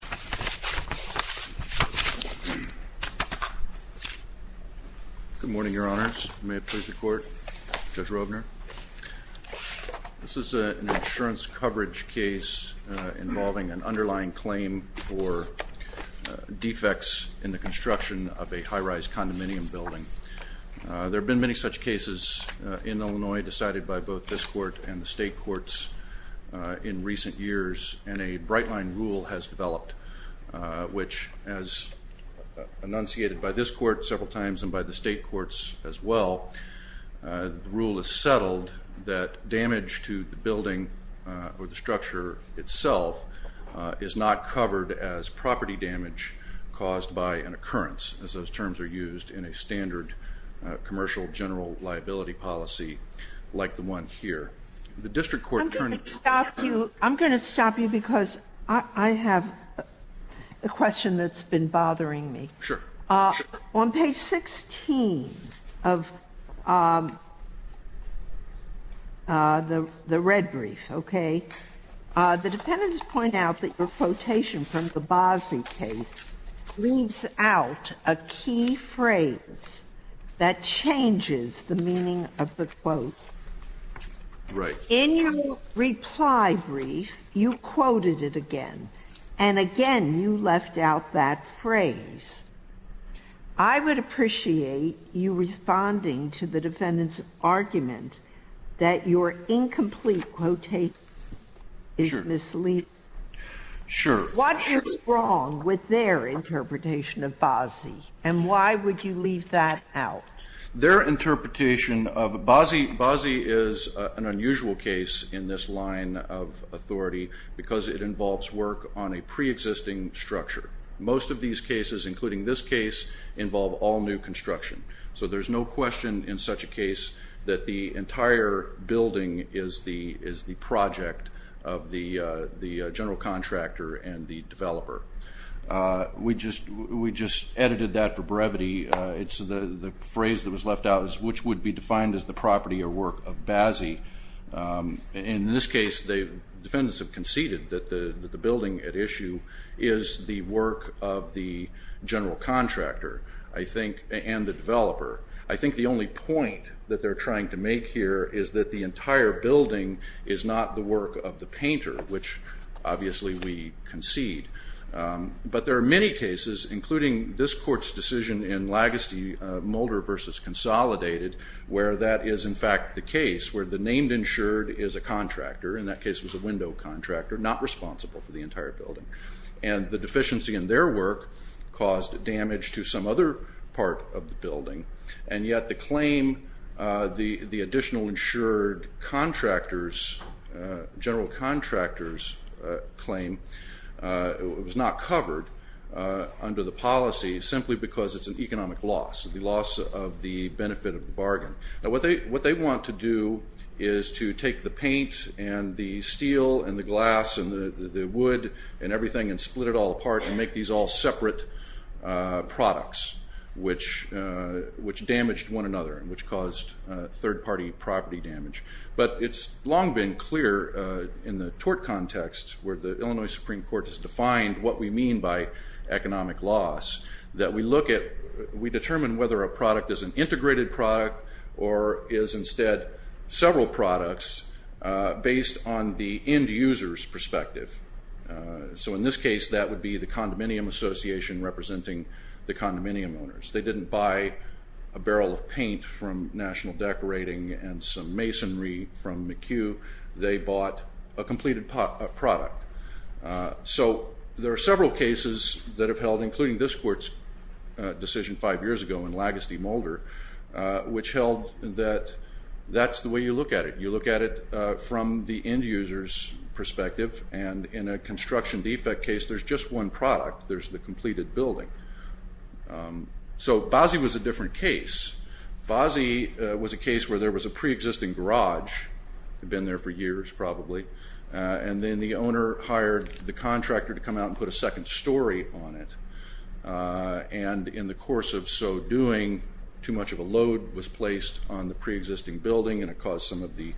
Good morning, Your Honors. May it please the Court, Judge Roebner. This is an insurance coverage case involving an underlying claim for defects in the construction of a high-rise condominium building. There have been many such cases in Illinois decided by both this and state courts in recent years, and a bright line rule has developed, which as enunciated by this court several times and by the state courts as well, the rule is settled that damage to the building or the structure itself is not covered as property damage caused by an occurrence, as those terms are used in a standard commercial general liability policy like the district court. I'm going to stop you, I'm going to stop you because I have a question that's been bothering me. Sure. On page 16 of the red brief, okay, the dependents point out that your quotation from the Bozzi case leaves out a key phrase that changes the meaning of the quote. Right. In your reply brief, you quoted it again, and again you left out that phrase. I would appreciate you with their interpretation of Bozzi, and why would you leave that out? Their interpretation of Bozzi, Bozzi is an unusual case in this line of authority because it involves work on a pre-existing structure. Most of these cases, including this case, involve all new construction. So there's no question in such a case that the entire building is not the work of the painter, which obviously we concede, and the only point that they're trying to make here is that the entire building is not the work of the painter, which obviously we concede. But there are many cases, including this court's decision in Lagoste-Mulder v. Consolidated, where that is in fact the case where the named insured is a contractor, in that case was a window contractor, not responsible for the entire building. And the deficiency in their work caused damage to some other part of the building, and yet the claim, the additional insured contractors, general contractors claim, it was not covered under the policy simply because it's an economic loss, the loss of the benefit of the bargain. Now what they want to do is to take the paint and the steel and the glass and the wood and everything and split it all apart and make these all separate products, which damaged one another and which caused third party property damage. But it's long been clear in the tort context where the Illinois Supreme Court has defined what we mean by economic loss that we look at, we determine whether a product is an integrated product or is instead several products based on the end user's perspective. So in this case, that would be the condominium association representing the condominium owners. They didn't buy a barrel of paint from National Decorating and some masonry from McHugh. They bought a completed product. So there are several cases that have held, including this court's decision five years ago in Lagoste, Mulder, which held that that's the way you look at it. You look at it from the end user's perspective, and in a construction defect case, there's just one product. There's the completed building. So Bozzi was a different case. Bozzi was a case where there was a pre-existing garage. It had been there for years probably. And then the owner hired the contractor to come out and put a second story on it. And in the course of so doing, too much of a load was placed on the pre-existing building, and it caused some of the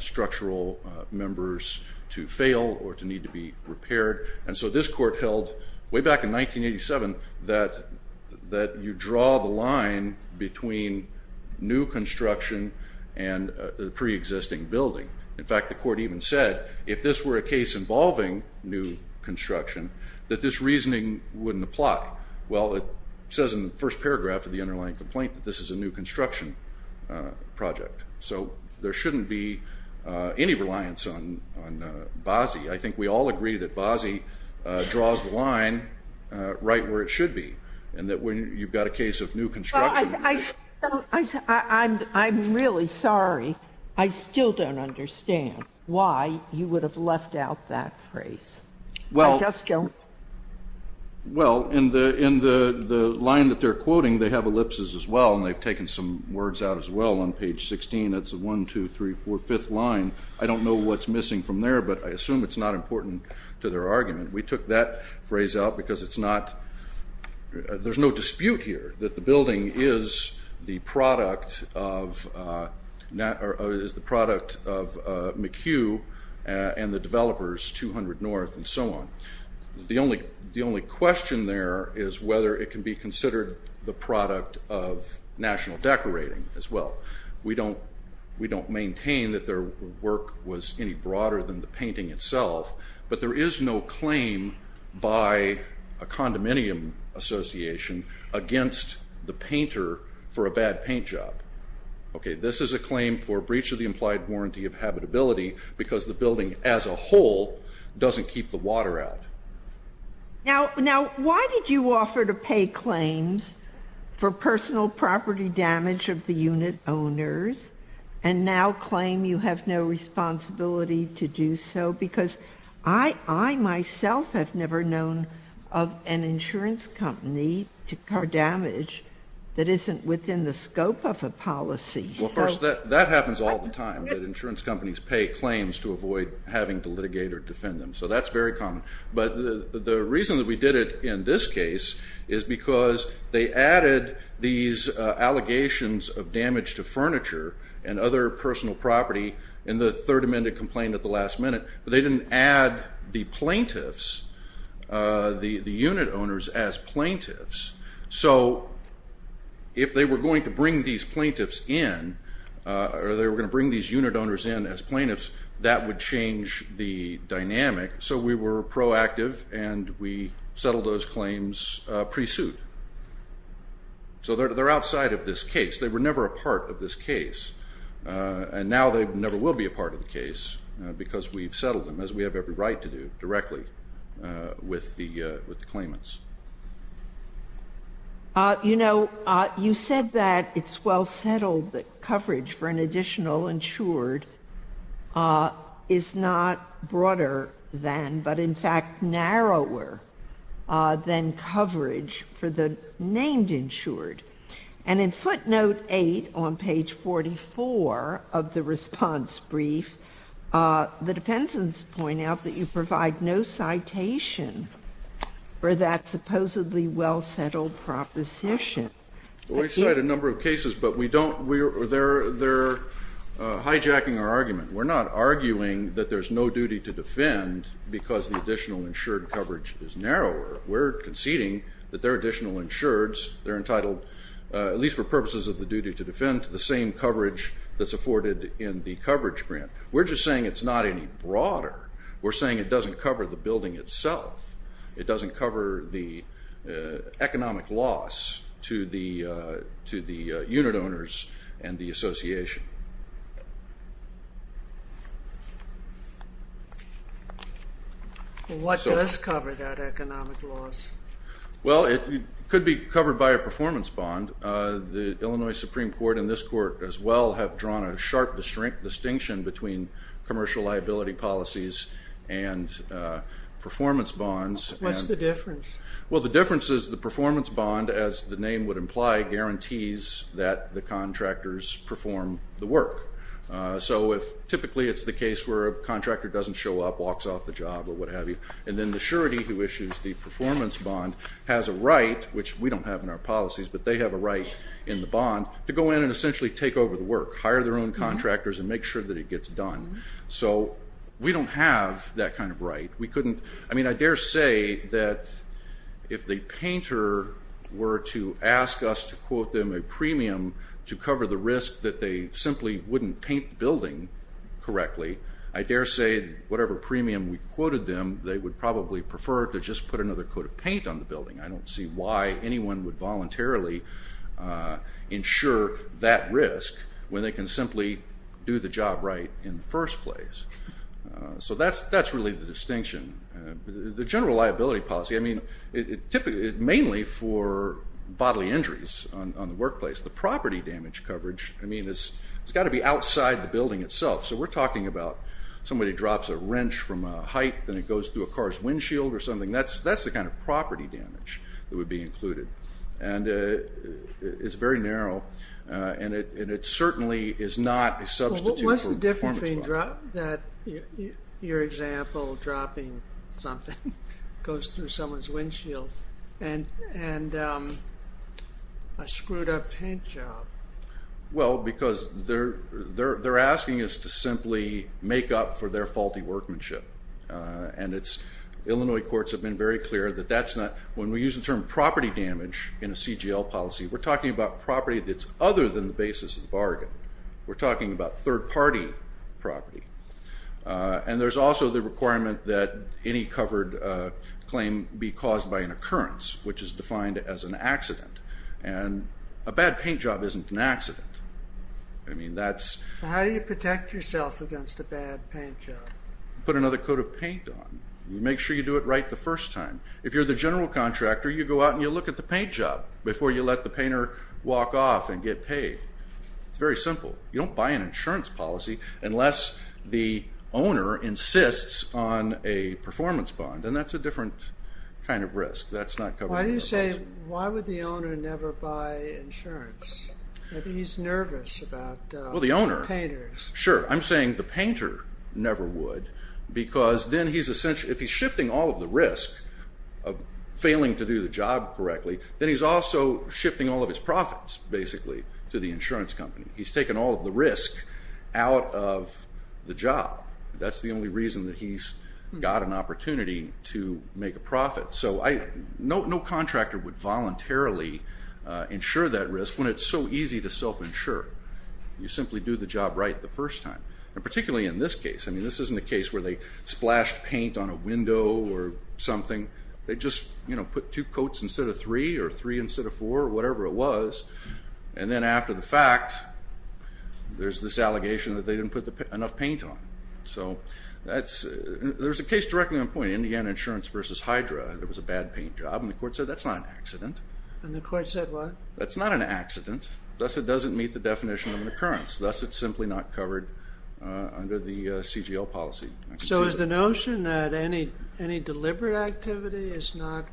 structural members to fail or to need to be repaired. And so this court held way back in 1987 that you draw the line between new construction and the pre-existing building. In fact, the court even said if this were a case involving new construction, that this reasoning wouldn't apply. Well, it says in the first paragraph of the underlying complaint that this is a new construction project. So there shouldn't be any reliance on Bozzi. I think we all agree that Bozzi draws the line right where it should be, and that when you've got a case of new construction. I'm really sorry. I still don't understand why you would have left out that phrase. Well. I just don't. Well, in the line that they're quoting, they have ellipses as well, and they've taken some words out as well on page 16. That's 1, 2, 3, 4, 5th line. I don't know what's missing from there, but I assume it's not important to their argument. We took that phrase out because there's no dispute here that the building is the product of McHugh and the developers, 200 North and so on. The only question there is whether it can be considered the product of National Decorating as well. We don't maintain that their work was any broader than the painting itself, but there is no claim by a condominium association against the painter for a bad paint job. Okay, this is a claim for breach of the implied warranty of habitability because the building as a whole doesn't keep the water out. Now, why did you offer to pay claims for personal property damage of the unit owners and now claim you have no responsibility to do so? Because I myself have never known of an insurance company to incur damage that isn't within the scope of a policy. Well, of course, that happens all the time that insurance companies pay claims to avoid having to litigate or defend them, so that's very common. But the reason that we did it in this case is because they added these allegations of damage to furniture and other personal property in the Third Amendment complaint at the last minute, but they didn't add the plaintiffs, the unit owners, as plaintiffs. So if they were going to bring these plaintiffs in or they were going to bring these unit owners in as plaintiffs, that would change the dynamic. So we were proactive and we settled those claims pre-suit. So they're outside of this case. They were never a part of this case, and now they never will be a part of the case because we've settled them, as we have every right to do directly with the claimants. You know, you said that it's well settled that coverage for an additional insured is not broader than, but in fact narrower, than coverage for the named insured. And in footnote 8 on page 44 of the response brief, the defendants point out that you provide no citation for that supposedly well settled proposition. We cite a number of cases, but we don't, they're hijacking our argument. We're not arguing that there's no duty to defend because the additional insured coverage is narrower. We're conceding that there are additional insureds. They're entitled, at least for purposes of the duty to defend, to the same coverage that's afforded in the coverage grant. We're just saying it's not any broader. We're saying it doesn't cover the building itself. It doesn't cover the economic loss to the unit owners and the association. What does cover that economic loss? Well, it could be covered by a performance bond. The Illinois Supreme Court and this court as well have drawn a sharp distinction between commercial liability policies and performance bonds. What's the difference? Well, the difference is the performance bond, as the name would imply, guarantees that the contractors perform the work. So if typically it's the case where a contractor doesn't show up, walks off the job or what have you, and then the surety who issues the performance bond has a right, which we don't have in our policies, but they have a right in the bond to go in and essentially take over the work, hire their own contractors and make sure that it gets done. So we don't have that kind of right. I mean, I dare say that if the painter were to ask us to quote them a premium to cover the risk that they simply wouldn't paint the building correctly, I dare say whatever premium we quoted them, they would probably prefer to just put another coat of paint on the building. I don't see why anyone would voluntarily ensure that risk when they can simply do the job right in the first place. So that's really the distinction. The general liability policy, I mean, mainly for bodily injuries on the workplace. The property damage coverage, I mean, it's got to be outside the building itself. So we're talking about somebody drops a wrench from a height, then it goes through a car's windshield or something. That's the kind of property damage that would be included. And it's very narrow, and it certainly is not a substitute for a performance bond. Your example of dropping something goes through someone's windshield and a screwed up paint job. Well, because they're asking us to simply make up for their faulty workmanship. And Illinois courts have been very clear that that's not – when we use the term property damage in a CGL policy, we're talking about property that's other than the basis of the bargain. We're talking about third-party property. And there's also the requirement that any covered claim be caused by an occurrence, which is defined as an accident. And a bad paint job isn't an accident. I mean, that's – So how do you protect yourself against a bad paint job? Put another coat of paint on. You make sure you do it right the first time. If you're the general contractor, you go out and you look at the paint job before you let the painter walk off and get paid. It's very simple. You don't buy an insurance policy unless the owner insists on a performance bond. And that's a different kind of risk. That's not covered in the policy. Why do you say – why would the owner never buy insurance? Maybe he's nervous about the painters. Well, the owner – sure. I'm saying the painter never would because then he's – if he's shifting all of the risk of failing to do the job correctly, then he's also shifting all of his profits, basically, to the insurance company. He's taken all of the risk out of the job. That's the only reason that he's got an opportunity to make a profit. So no contractor would voluntarily insure that risk when it's so easy to self-insure. You simply do the job right the first time, and particularly in this case. I mean, this isn't a case where they splashed paint on a window or something. They just, you know, put two coats instead of three or three instead of four or whatever it was. And then after the fact, there's this allegation that they didn't put enough paint on. So that's – there's a case directly on point, Indiana Insurance v. Hydra. There was a bad paint job, and the court said that's not an accident. And the court said what? That's not an accident. Thus, it doesn't meet the definition of an occurrence. Thus, it's simply not covered under the CGL policy. So is the notion that any deliberate activity is not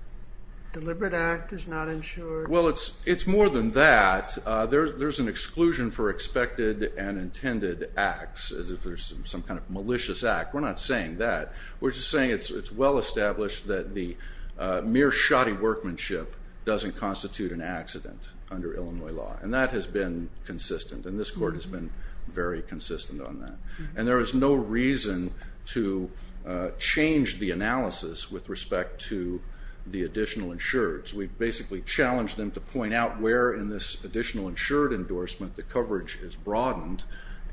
– deliberate act is not insured? Well, it's more than that. There's an exclusion for expected and intended acts, as if there's some kind of malicious act. We're not saying that. We're just saying it's well established that the mere shoddy workmanship doesn't constitute an accident under Illinois law. And that has been consistent, and this court has been very consistent on that. And there is no reason to change the analysis with respect to the additional insureds. We've basically challenged them to point out where in this additional insured endorsement the coverage is broadened,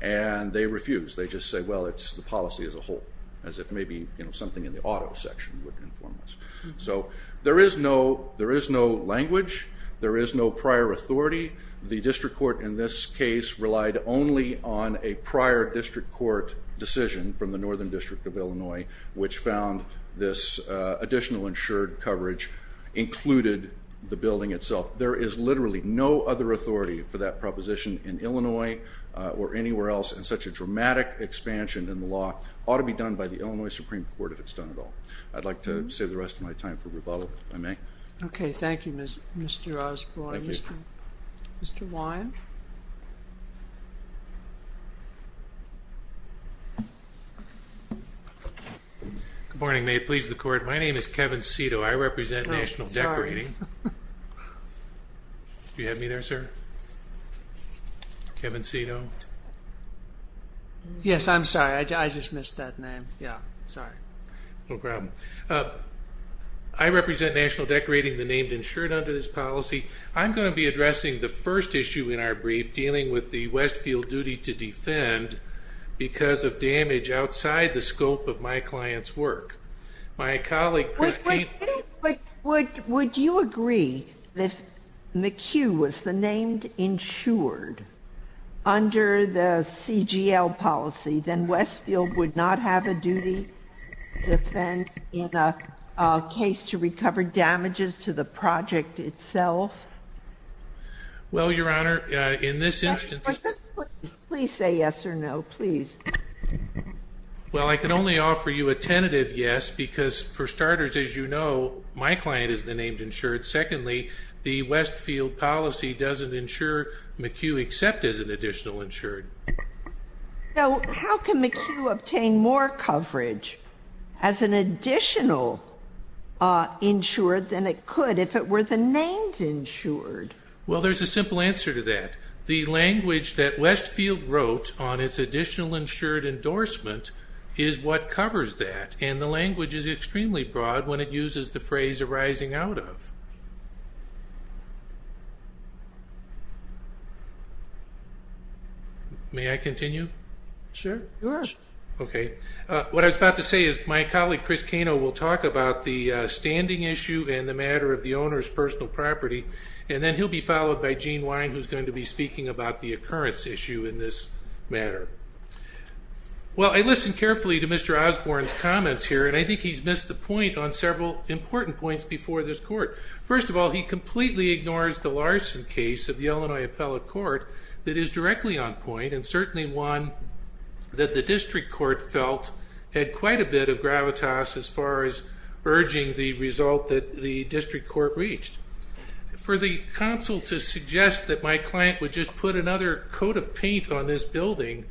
and they refuse. They just say, well, it's the policy as a whole, as it may be something in the auto section would inform us. So there is no language. There is no prior authority. The district court in this case relied only on a prior district court decision from the Northern District of Illinois, which found this additional insured coverage included the building itself. There is literally no other authority for that proposition in Illinois or anywhere else, and such a dramatic expansion in the law ought to be done by the Illinois Supreme Court if it's done at all. I'd like to save the rest of my time for rebuttal, if I may. Okay. Thank you, Mr. Osborne. Mr. Wyne. Good morning, ma'am. Please, the court. My name is Kevin Cito. I represent National Decorating. Do you have me there, sir? Kevin Cito. Yes, I'm sorry. I just missed that name. Yeah, sorry. No problem. I represent National Decorating, the name insured under this policy. I'm going to be addressing the first issue in our brief, dealing with the Westfield duty to defend, because of damage outside the scope of my client's work. My colleague, Chris Keith. Would you agree that if McHugh was the name insured under the CGL policy, then Westfield would not have a duty to defend in a case to recover damages to the project itself? Well, Your Honor, in this instance. Please say yes or no, please. Well, I can only offer you a tentative yes, because for starters, as you know, my client is the name insured. Secondly, the Westfield policy doesn't insure McHugh except as an additional insured. So how can McHugh obtain more coverage as an additional insured than it could if it were the name insured? Well, there's a simple answer to that. The language that Westfield wrote on its additional insured endorsement is what covers that, and the language is extremely broad when it uses the phrase arising out of. May I continue? Sure. Okay. What I was about to say is my colleague, Chris Kano, will talk about the standing issue and the matter of the owner's personal property, and then he'll be followed by Gene Wine, who's going to be speaking about the occurrence issue in this matter. Well, I listened carefully to Mr. Osborne's comments here, and I think he's missed the point on several important points before this court. First of all, he completely ignores the Larson case of the Illinois Appellate Court that is directly on point and certainly one that the district court felt had quite a bit of gravitas as far as urging the result that the district court reached. For the counsel to suggest that my client would just put another coat of paint on this building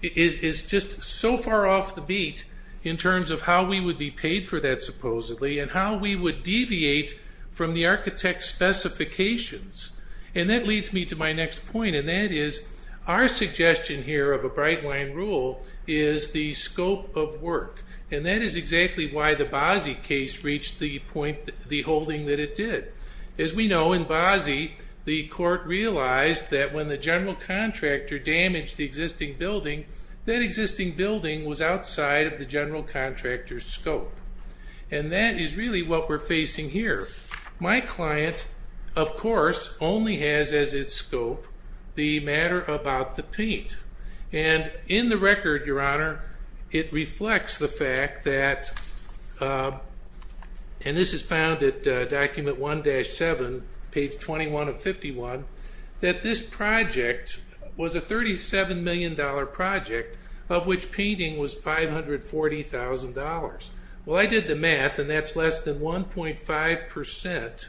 is just so far off the beat in terms of how we would be paid for that, supposedly, and how we would deviate from the architect's specifications. And that leads me to my next point, and that is our suggestion here of a bright-line rule is the scope of work, and that is exactly why the Bozzi case reached the holding that it did. As we know, in Bozzi, the court realized that when the general contractor damaged the existing building, that existing building was outside of the general contractor's scope, and that is really what we're facing here. My client, of course, only has as its scope the matter about the paint, and in the record, Your Honor, it reflects the fact that, and this is found at document 1-7, page 21 of 51, that this project was a $37 million project of which painting was $540,000. Well, I did the math, and that's less than 1.5%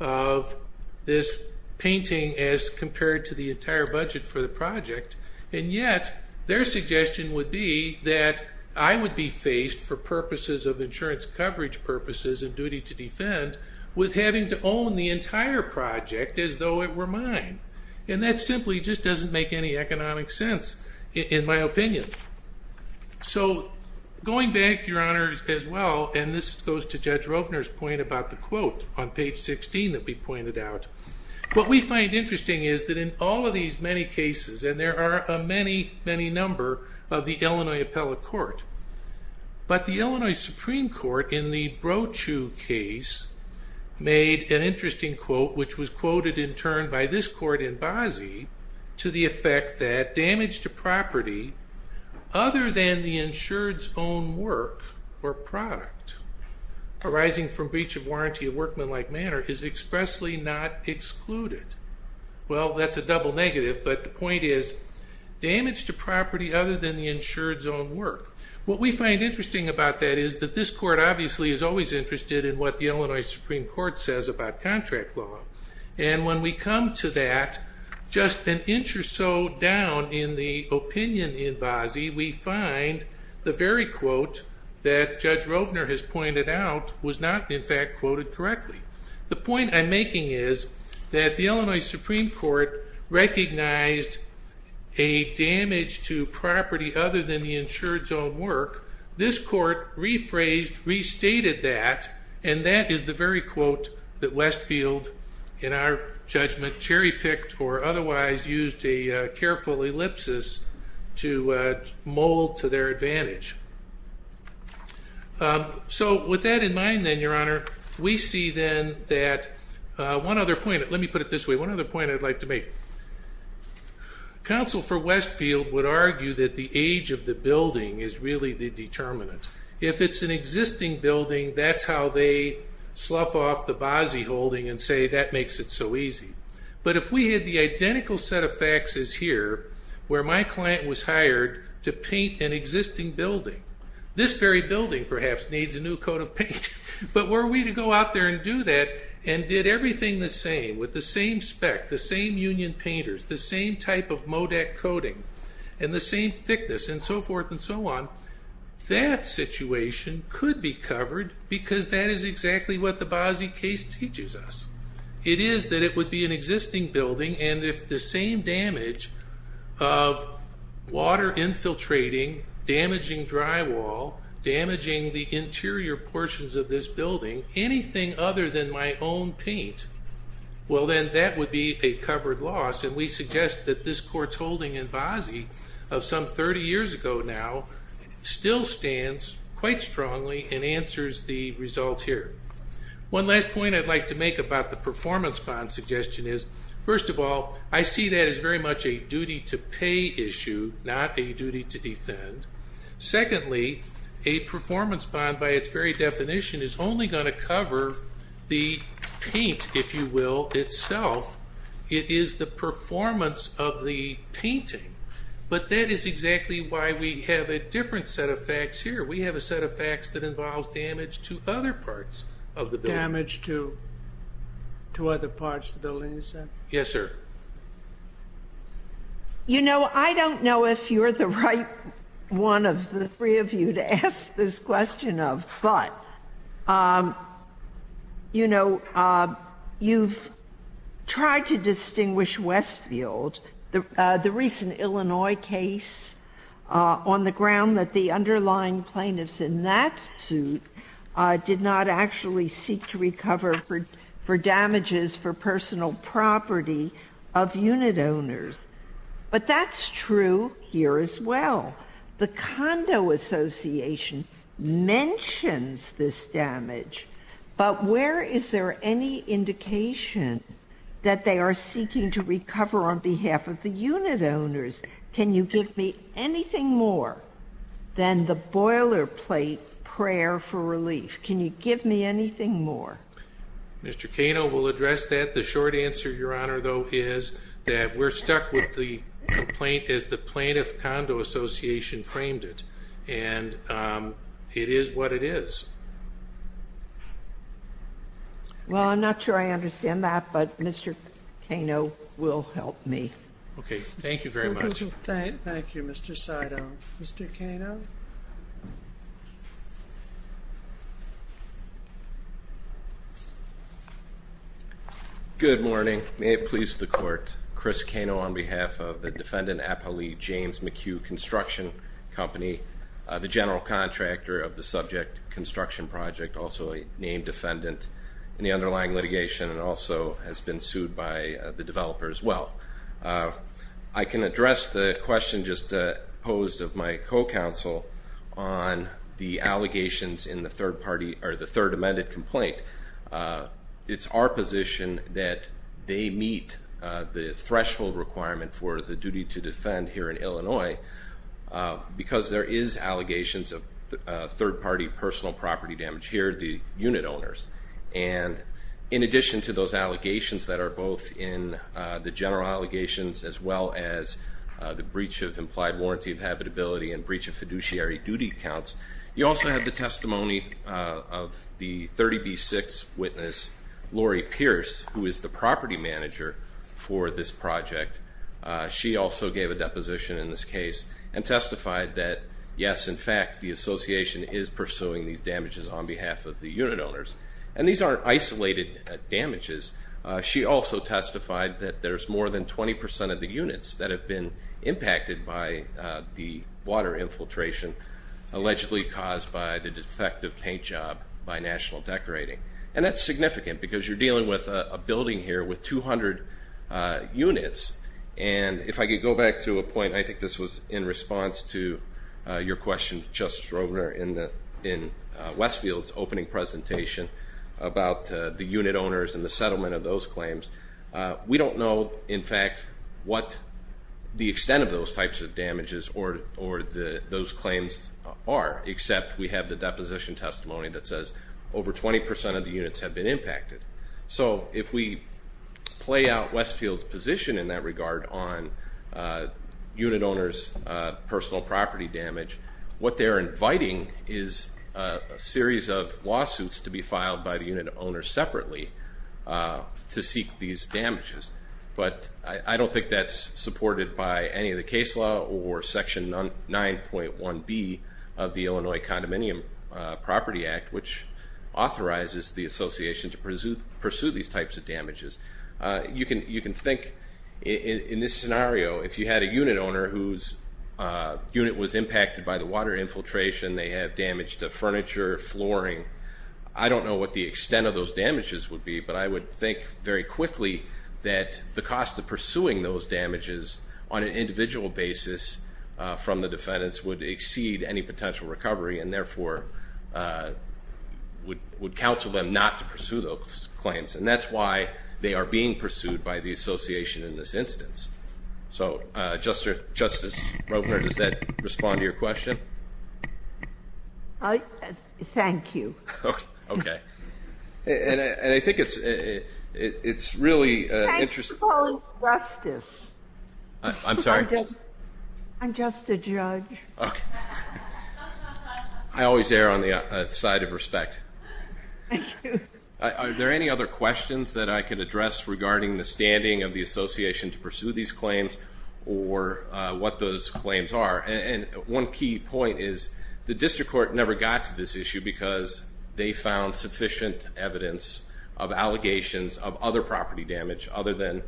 of this painting as compared to the entire budget for the project, and yet their suggestion would be that I would be faced, for purposes of insurance coverage purposes and duty to defend, with having to own the entire project as though it were mine. And that simply just doesn't make any economic sense, in my opinion. So, going back, Your Honor, as well, and this goes to Judge Rovner's point about the quote on page 16 that we pointed out, what we find interesting is that in all of these many cases, and there are a many, many number of the Illinois appellate court, but the Illinois Supreme Court, in the Brochu case, made an interesting quote, which was quoted in turn by this court in Bozzi to the effect that damage to property other than the insured's own work or product arising from breach of warranty of workmanlike manner is expressly not excluded. Well, that's a double negative, but the point is damage to property other than the insured's own work. What we find interesting about that is that this court obviously is always interested in what the Illinois Supreme Court says about contract law. And when we come to that, just an inch or so down in the opinion in Bozzi, we find the very quote that Judge Rovner has pointed out was not, in fact, quoted correctly. The point I'm making is that the Illinois Supreme Court recognized a damage to property other than the insured's own work. This court rephrased, restated that, and that is the very quote that Westfield, in our judgment, cherry-picked or otherwise used a careful ellipsis to mold to their advantage. So with that in mind then, Your Honor, we see then that one other point, let me put it this way, one other point I'd like to make. Counsel for Westfield would argue that the age of the building is really the determinant. If it's an existing building, that's how they slough off the Bozzi holding and say that makes it so easy. But if we had the identical set of facts as here, where my client was hired to paint an existing building, this very building perhaps needs a new coat of paint, but were we to go out there and do that and did everything the same with the same spec, the same union painters, the same type of Modak coating, and the same thickness and so forth and so on, that situation could be covered because that is exactly what the Bozzi case teaches us. It is that it would be an existing building, and if the same damage of water infiltrating, damaging drywall, damaging the interior portions of this building, anything other than my own paint, well then that would be a covered loss. And we suggest that this court's holding in Bozzi of some 30 years ago now still stands quite strongly and answers the result here. One last point I'd like to make about the performance bond suggestion is, first of all, I see that as very much a duty to pay issue, not a duty to defend. Secondly, a performance bond by its very definition is only going to cover the paint, if you will, itself. It is the performance of the painting, but that is exactly why we have a different set of facts here. We have a set of facts that involves damage to other parts of the building. Damage to other parts of the building, you said? Yes, sir. You know, I don't know if you're the right one of the three of you to ask this question of, but, you know, you've tried to distinguish Westfield, the recent Illinois case, on the ground that the underlying plaintiffs in that suit did not actually seek to recover for damages for personal property of unit owners. But that's true here as well. The Condo Association mentions this damage, but where is there any indication that they are seeking to recover on behalf of the unit owners? Can you give me anything more than the boilerplate prayer for relief? Can you give me anything more? Mr. Cano will address that. The short answer, Your Honor, though, is that we're stuck with the complaint as the Plaintiff Condo Association framed it, and it is what it is. Well, I'm not sure I understand that, but Mr. Cano will help me. Okay. Thank you very much. Thank you, Mr. Sidon. Mr. Cano? Good morning. May it please the Court, Chris Cano on behalf of the defendant, Appali James McHugh Construction Company, the general contractor of the subject construction project, also a named defendant in the underlying litigation and also has been sued by the developer as well. I can address the question just posed of my co-counsel on the allegations in the third party or the third amended complaint. It's our position that they meet the threshold requirement for the duty to defend here in Illinois because there is allegations of third party personal property damage here, the unit owners. And in addition to those allegations that are both in the general allegations as well as the breach of implied warranty of habitability and breach of fiduciary duty accounts, you also have the testimony of the 30B6 witness, Lori Pierce, who is the property manager for this project. She also gave a deposition in this case and testified that, yes, in fact, the association is pursuing these damages on behalf of the unit owners. And these aren't isolated damages. She also testified that there's more than 20 percent of the units that have been impacted by the water infiltration allegedly caused by the defective paint job by National Decorating. And that's significant because you're dealing with a building here with 200 units. And if I could go back to a point, I think this was in response to your question, Justice Rogner, in Westfield's opening presentation about the unit owners and the settlement of those claims. We don't know, in fact, what the extent of those types of damages or those claims are, except we have the deposition testimony that says over 20 percent of the units have been impacted. So if we play out Westfield's position in that regard on unit owners' personal property damage, what they're inviting is a series of lawsuits to be filed by the unit owners separately to seek these damages. But I don't think that's supported by any of the case law or Section 9.1B of the Illinois Condominium Property Act, which authorizes the association to pursue these types of damages. You can think, in this scenario, if you had a unit owner whose unit was impacted by the water infiltration, they have damage to furniture, flooring, I don't know what the extent of those damages would be, but I would think very quickly that the cost of pursuing those damages on an individual basis from the defendants would exceed any potential recovery and, therefore, would counsel them not to pursue those claims. And that's why they are being pursued by the association in this instance. So, Justice Rogner, does that respond to your question? Thank you. Okay. And I think it's really interesting. Thanks for calling me Justice. I'm sorry? I'm just a judge. Okay. I always err on the side of respect. Thank you. Are there any other questions that I can address regarding the standing of the association to pursue these claims or what those claims are? And one key point is the district court never got to this issue because they found sufficient evidence of allegations of other property damage other than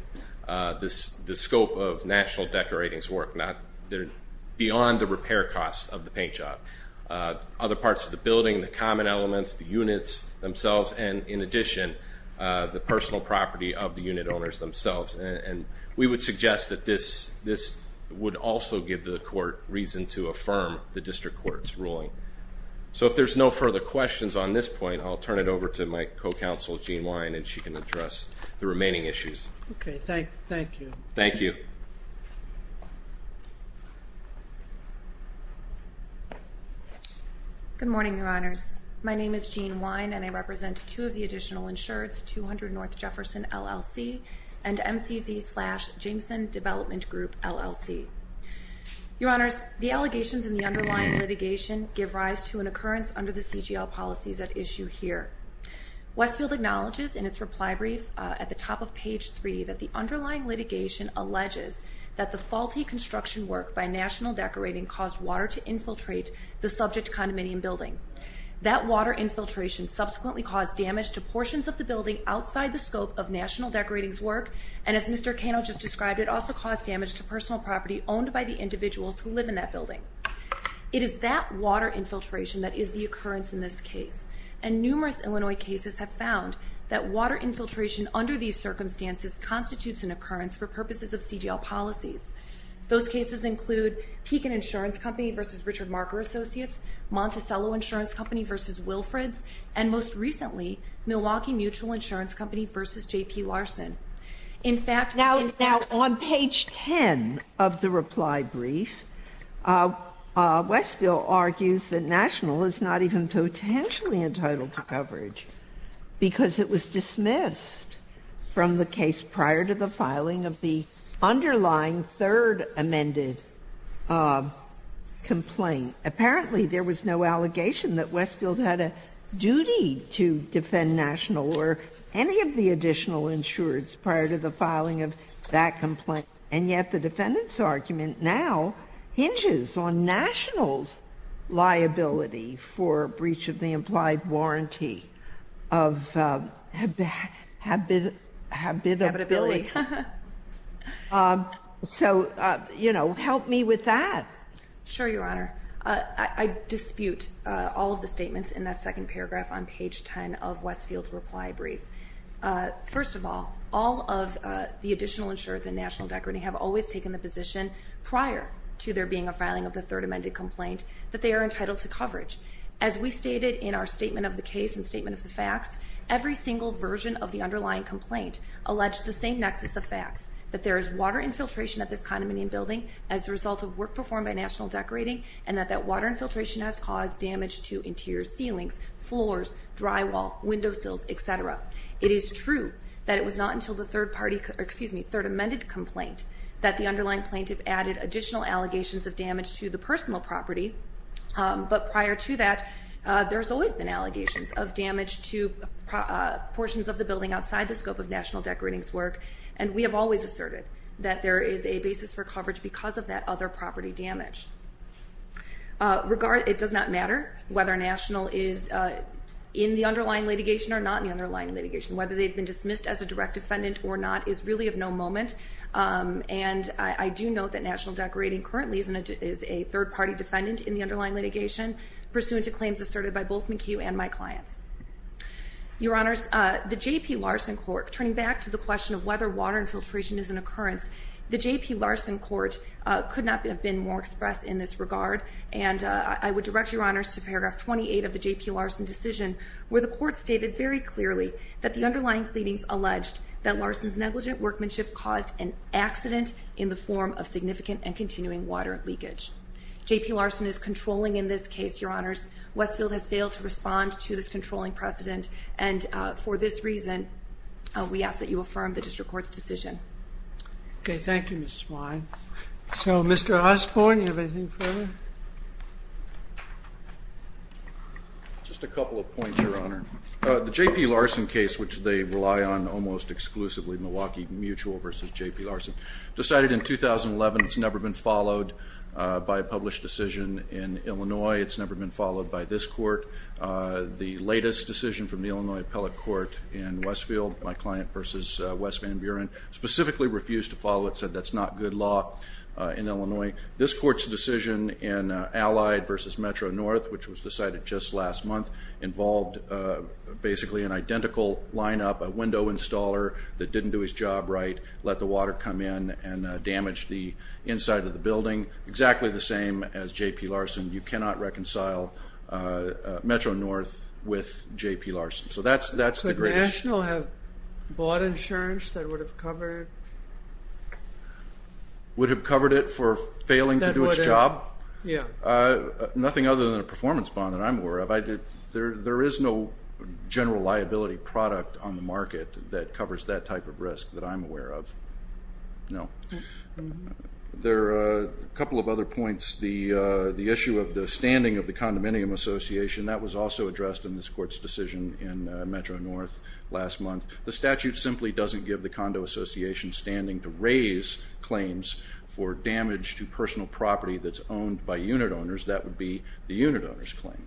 the scope of National Decorating's work. They're beyond the repair costs of the paint job. Other parts of the building, the common elements, the units themselves, and, in addition, the personal property of the unit owners themselves. And we would suggest that this would also give the court reason to affirm the district court's ruling. So, if there's no further questions on this point, I'll turn it over to my co-counsel, Jean Wine, and she can address the remaining issues. Okay. Thank you. Thank you. Good morning, Your Honors. My name is Jean Wine, and I represent two of the additional insureds, 200 North Jefferson LLC and MCZ slash Jameson Development Group LLC. Your Honors, the allegations in the underlying litigation give rise to an occurrence under the CGL policies at issue here. Westfield acknowledges in its reply brief at the top of page three that the underlying litigation alleges that the faulty construction work by National Decorating caused water to infiltrate the subject condominium building. That water infiltration subsequently caused damage to portions of the building outside the scope of National Decorating's work, and as Mr. Cano just described, it also caused damage to personal property owned by the individuals who live in that building. It is that water infiltration that is the occurrence in this case, and numerous Illinois cases have found that water infiltration under these circumstances constitutes an occurrence for purposes of CGL policies. Those cases include Pekin Insurance Company v. Richard Marker Associates, Monticello Insurance Company v. Wilfrids, and most recently, Milwaukee Mutual Insurance Company v. J.P. Larson. In fact ñ Now, on page 10 of the reply brief, Westfield argues that National is not even potentially entitled to coverage because it was dismissed from the case prior to the filing of the underlying third amended complaint. Apparently, there was no allegation that Westfield had a duty to defend National or any of the additional insureds prior to the filing of that complaint. And yet the defendant's argument now hinges on National's liability for breach of the habitability. So, you know, help me with that. Sure, Your Honor. I dispute all of the statements in that second paragraph on page 10 of Westfield's reply brief. First of all, all of the additional insureds in National Decorating have always taken the position, prior to there being a filing of the third amended complaint, that they are entitled to coverage. As we stated in our statement of the case and statement of the facts, every single version of the underlying complaint alleged the same nexus of facts, that there is water infiltration at this condominium building as a result of work performed by National Decorating and that that water infiltration has caused damage to interior ceilings, floors, drywall, windowsills, etc. It is true that it was not until the third amended complaint that the underlying plaintiff added additional allegations of damage to the personal property. But prior to that, there's always been allegations of damage to portions of the building outside the scope of National Decorating's work. And we have always asserted that there is a basis for coverage because of that other property damage. It does not matter whether National is in the underlying litigation or not in the underlying litigation. Whether they've been dismissed as a direct defendant or not is really of no moment. And I do note that National Decorating currently is a third-party defendant in the underlying litigation, pursuant to claims asserted by both McHugh and my clients. Your Honors, the J.P. Larson court, turning back to the question of whether water infiltration is an occurrence, the J.P. Larson court could not have been more expressed in this regard. And I would direct Your Honors to paragraph 28 of the J.P. Larson decision, where the court stated very clearly that the underlying pleadings alleged that Larson's negligent workmanship caused an accident in the form of significant and continuing water leakage. J.P. Larson is controlling in this case, Your Honors. Westfield has failed to respond to this controlling precedent. And for this reason, we ask that you affirm the district court's decision. Okay. Thank you, Ms. Swine. So, Mr. Osborne, do you have anything further? Just a couple of points, Your Honor. The J.P. Larson case, which they rely on almost exclusively, Milwaukee Mutual v. J.P. Larson, decided in 2011. It's never been followed by a published decision in Illinois. It's never been followed by this court. The latest decision from the Illinois appellate court in Westfield, my client v. Wes Van Buren, specifically refused to follow it, said that's not good law in Illinois. This court's decision in Allied v. Metro North, which was decided just last month, involved basically an identical lineup, a window installer that didn't do his job right, let the water come in and damage the inside of the building, exactly the same as J.P. Larson. You cannot reconcile Metro North with J.P. Larson. So that's the greatest. Could National have bought insurance that would have covered? Would have covered it for failing to do its job? Yeah. Nothing other than a performance bond that I'm aware of. There is no general liability product on the market that covers that type of risk that I'm aware of. No. There are a couple of other points. The issue of the standing of the condominium association, that was also addressed in this court's decision in Metro North last month. The statute simply doesn't give the condo association standing to raise claims for damage to personal property that's owned by unit owners. That would be the unit owner's claim.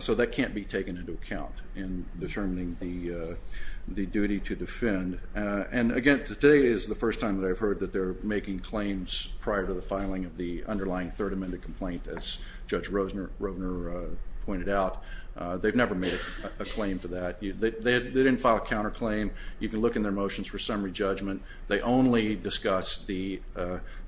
So that can't be taken into account in determining the duty to defend. And, again, today is the first time that I've heard that they're making claims prior to the filing of the underlying third amended complaint, as Judge Rovner pointed out. They've never made a claim for that. They didn't file a counterclaim. You can look in their motions for summary judgment. They only discuss the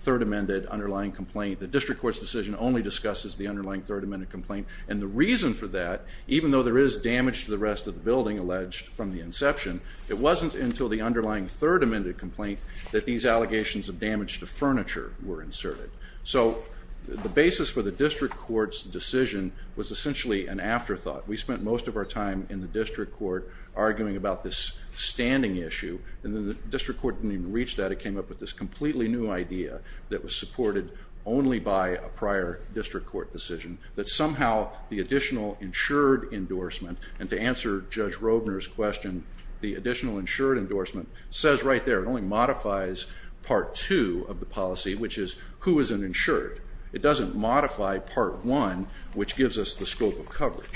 third amended underlying complaint. The district court's decision only discusses the underlying third amended complaint. And the reason for that, even though there is damage to the rest of the building alleged from the inception, it wasn't until the underlying third amended complaint that these allegations of damage to furniture were inserted. So the basis for the district court's decision was essentially an afterthought. We spent most of our time in the district court arguing about this standing issue. And then the district court didn't even reach that. It came up with this completely new idea that was supported only by a prior district court decision, that somehow the additional insured endorsement, and to answer Judge Rovner's question, the additional insured endorsement says right there, it only modifies Part 2 of the policy, which is who is an insured. It doesn't modify Part 1, which gives us the scope of coverage.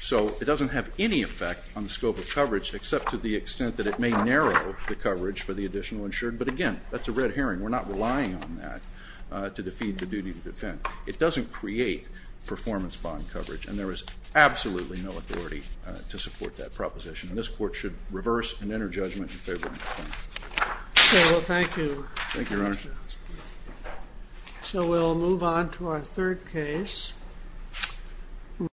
So it doesn't have any effect on the scope of coverage, except to the extent that it may narrow the coverage for the additional insured. But again, that's a red herring. We're not relying on that to defeat the duty to defend. It doesn't create performance bond coverage, and there is absolutely no authority to support that proposition. And this Court should reverse and enter judgment in favor of that claim. Okay. Well, thank you. Thank you, Your Honor. So we'll move on to our third case.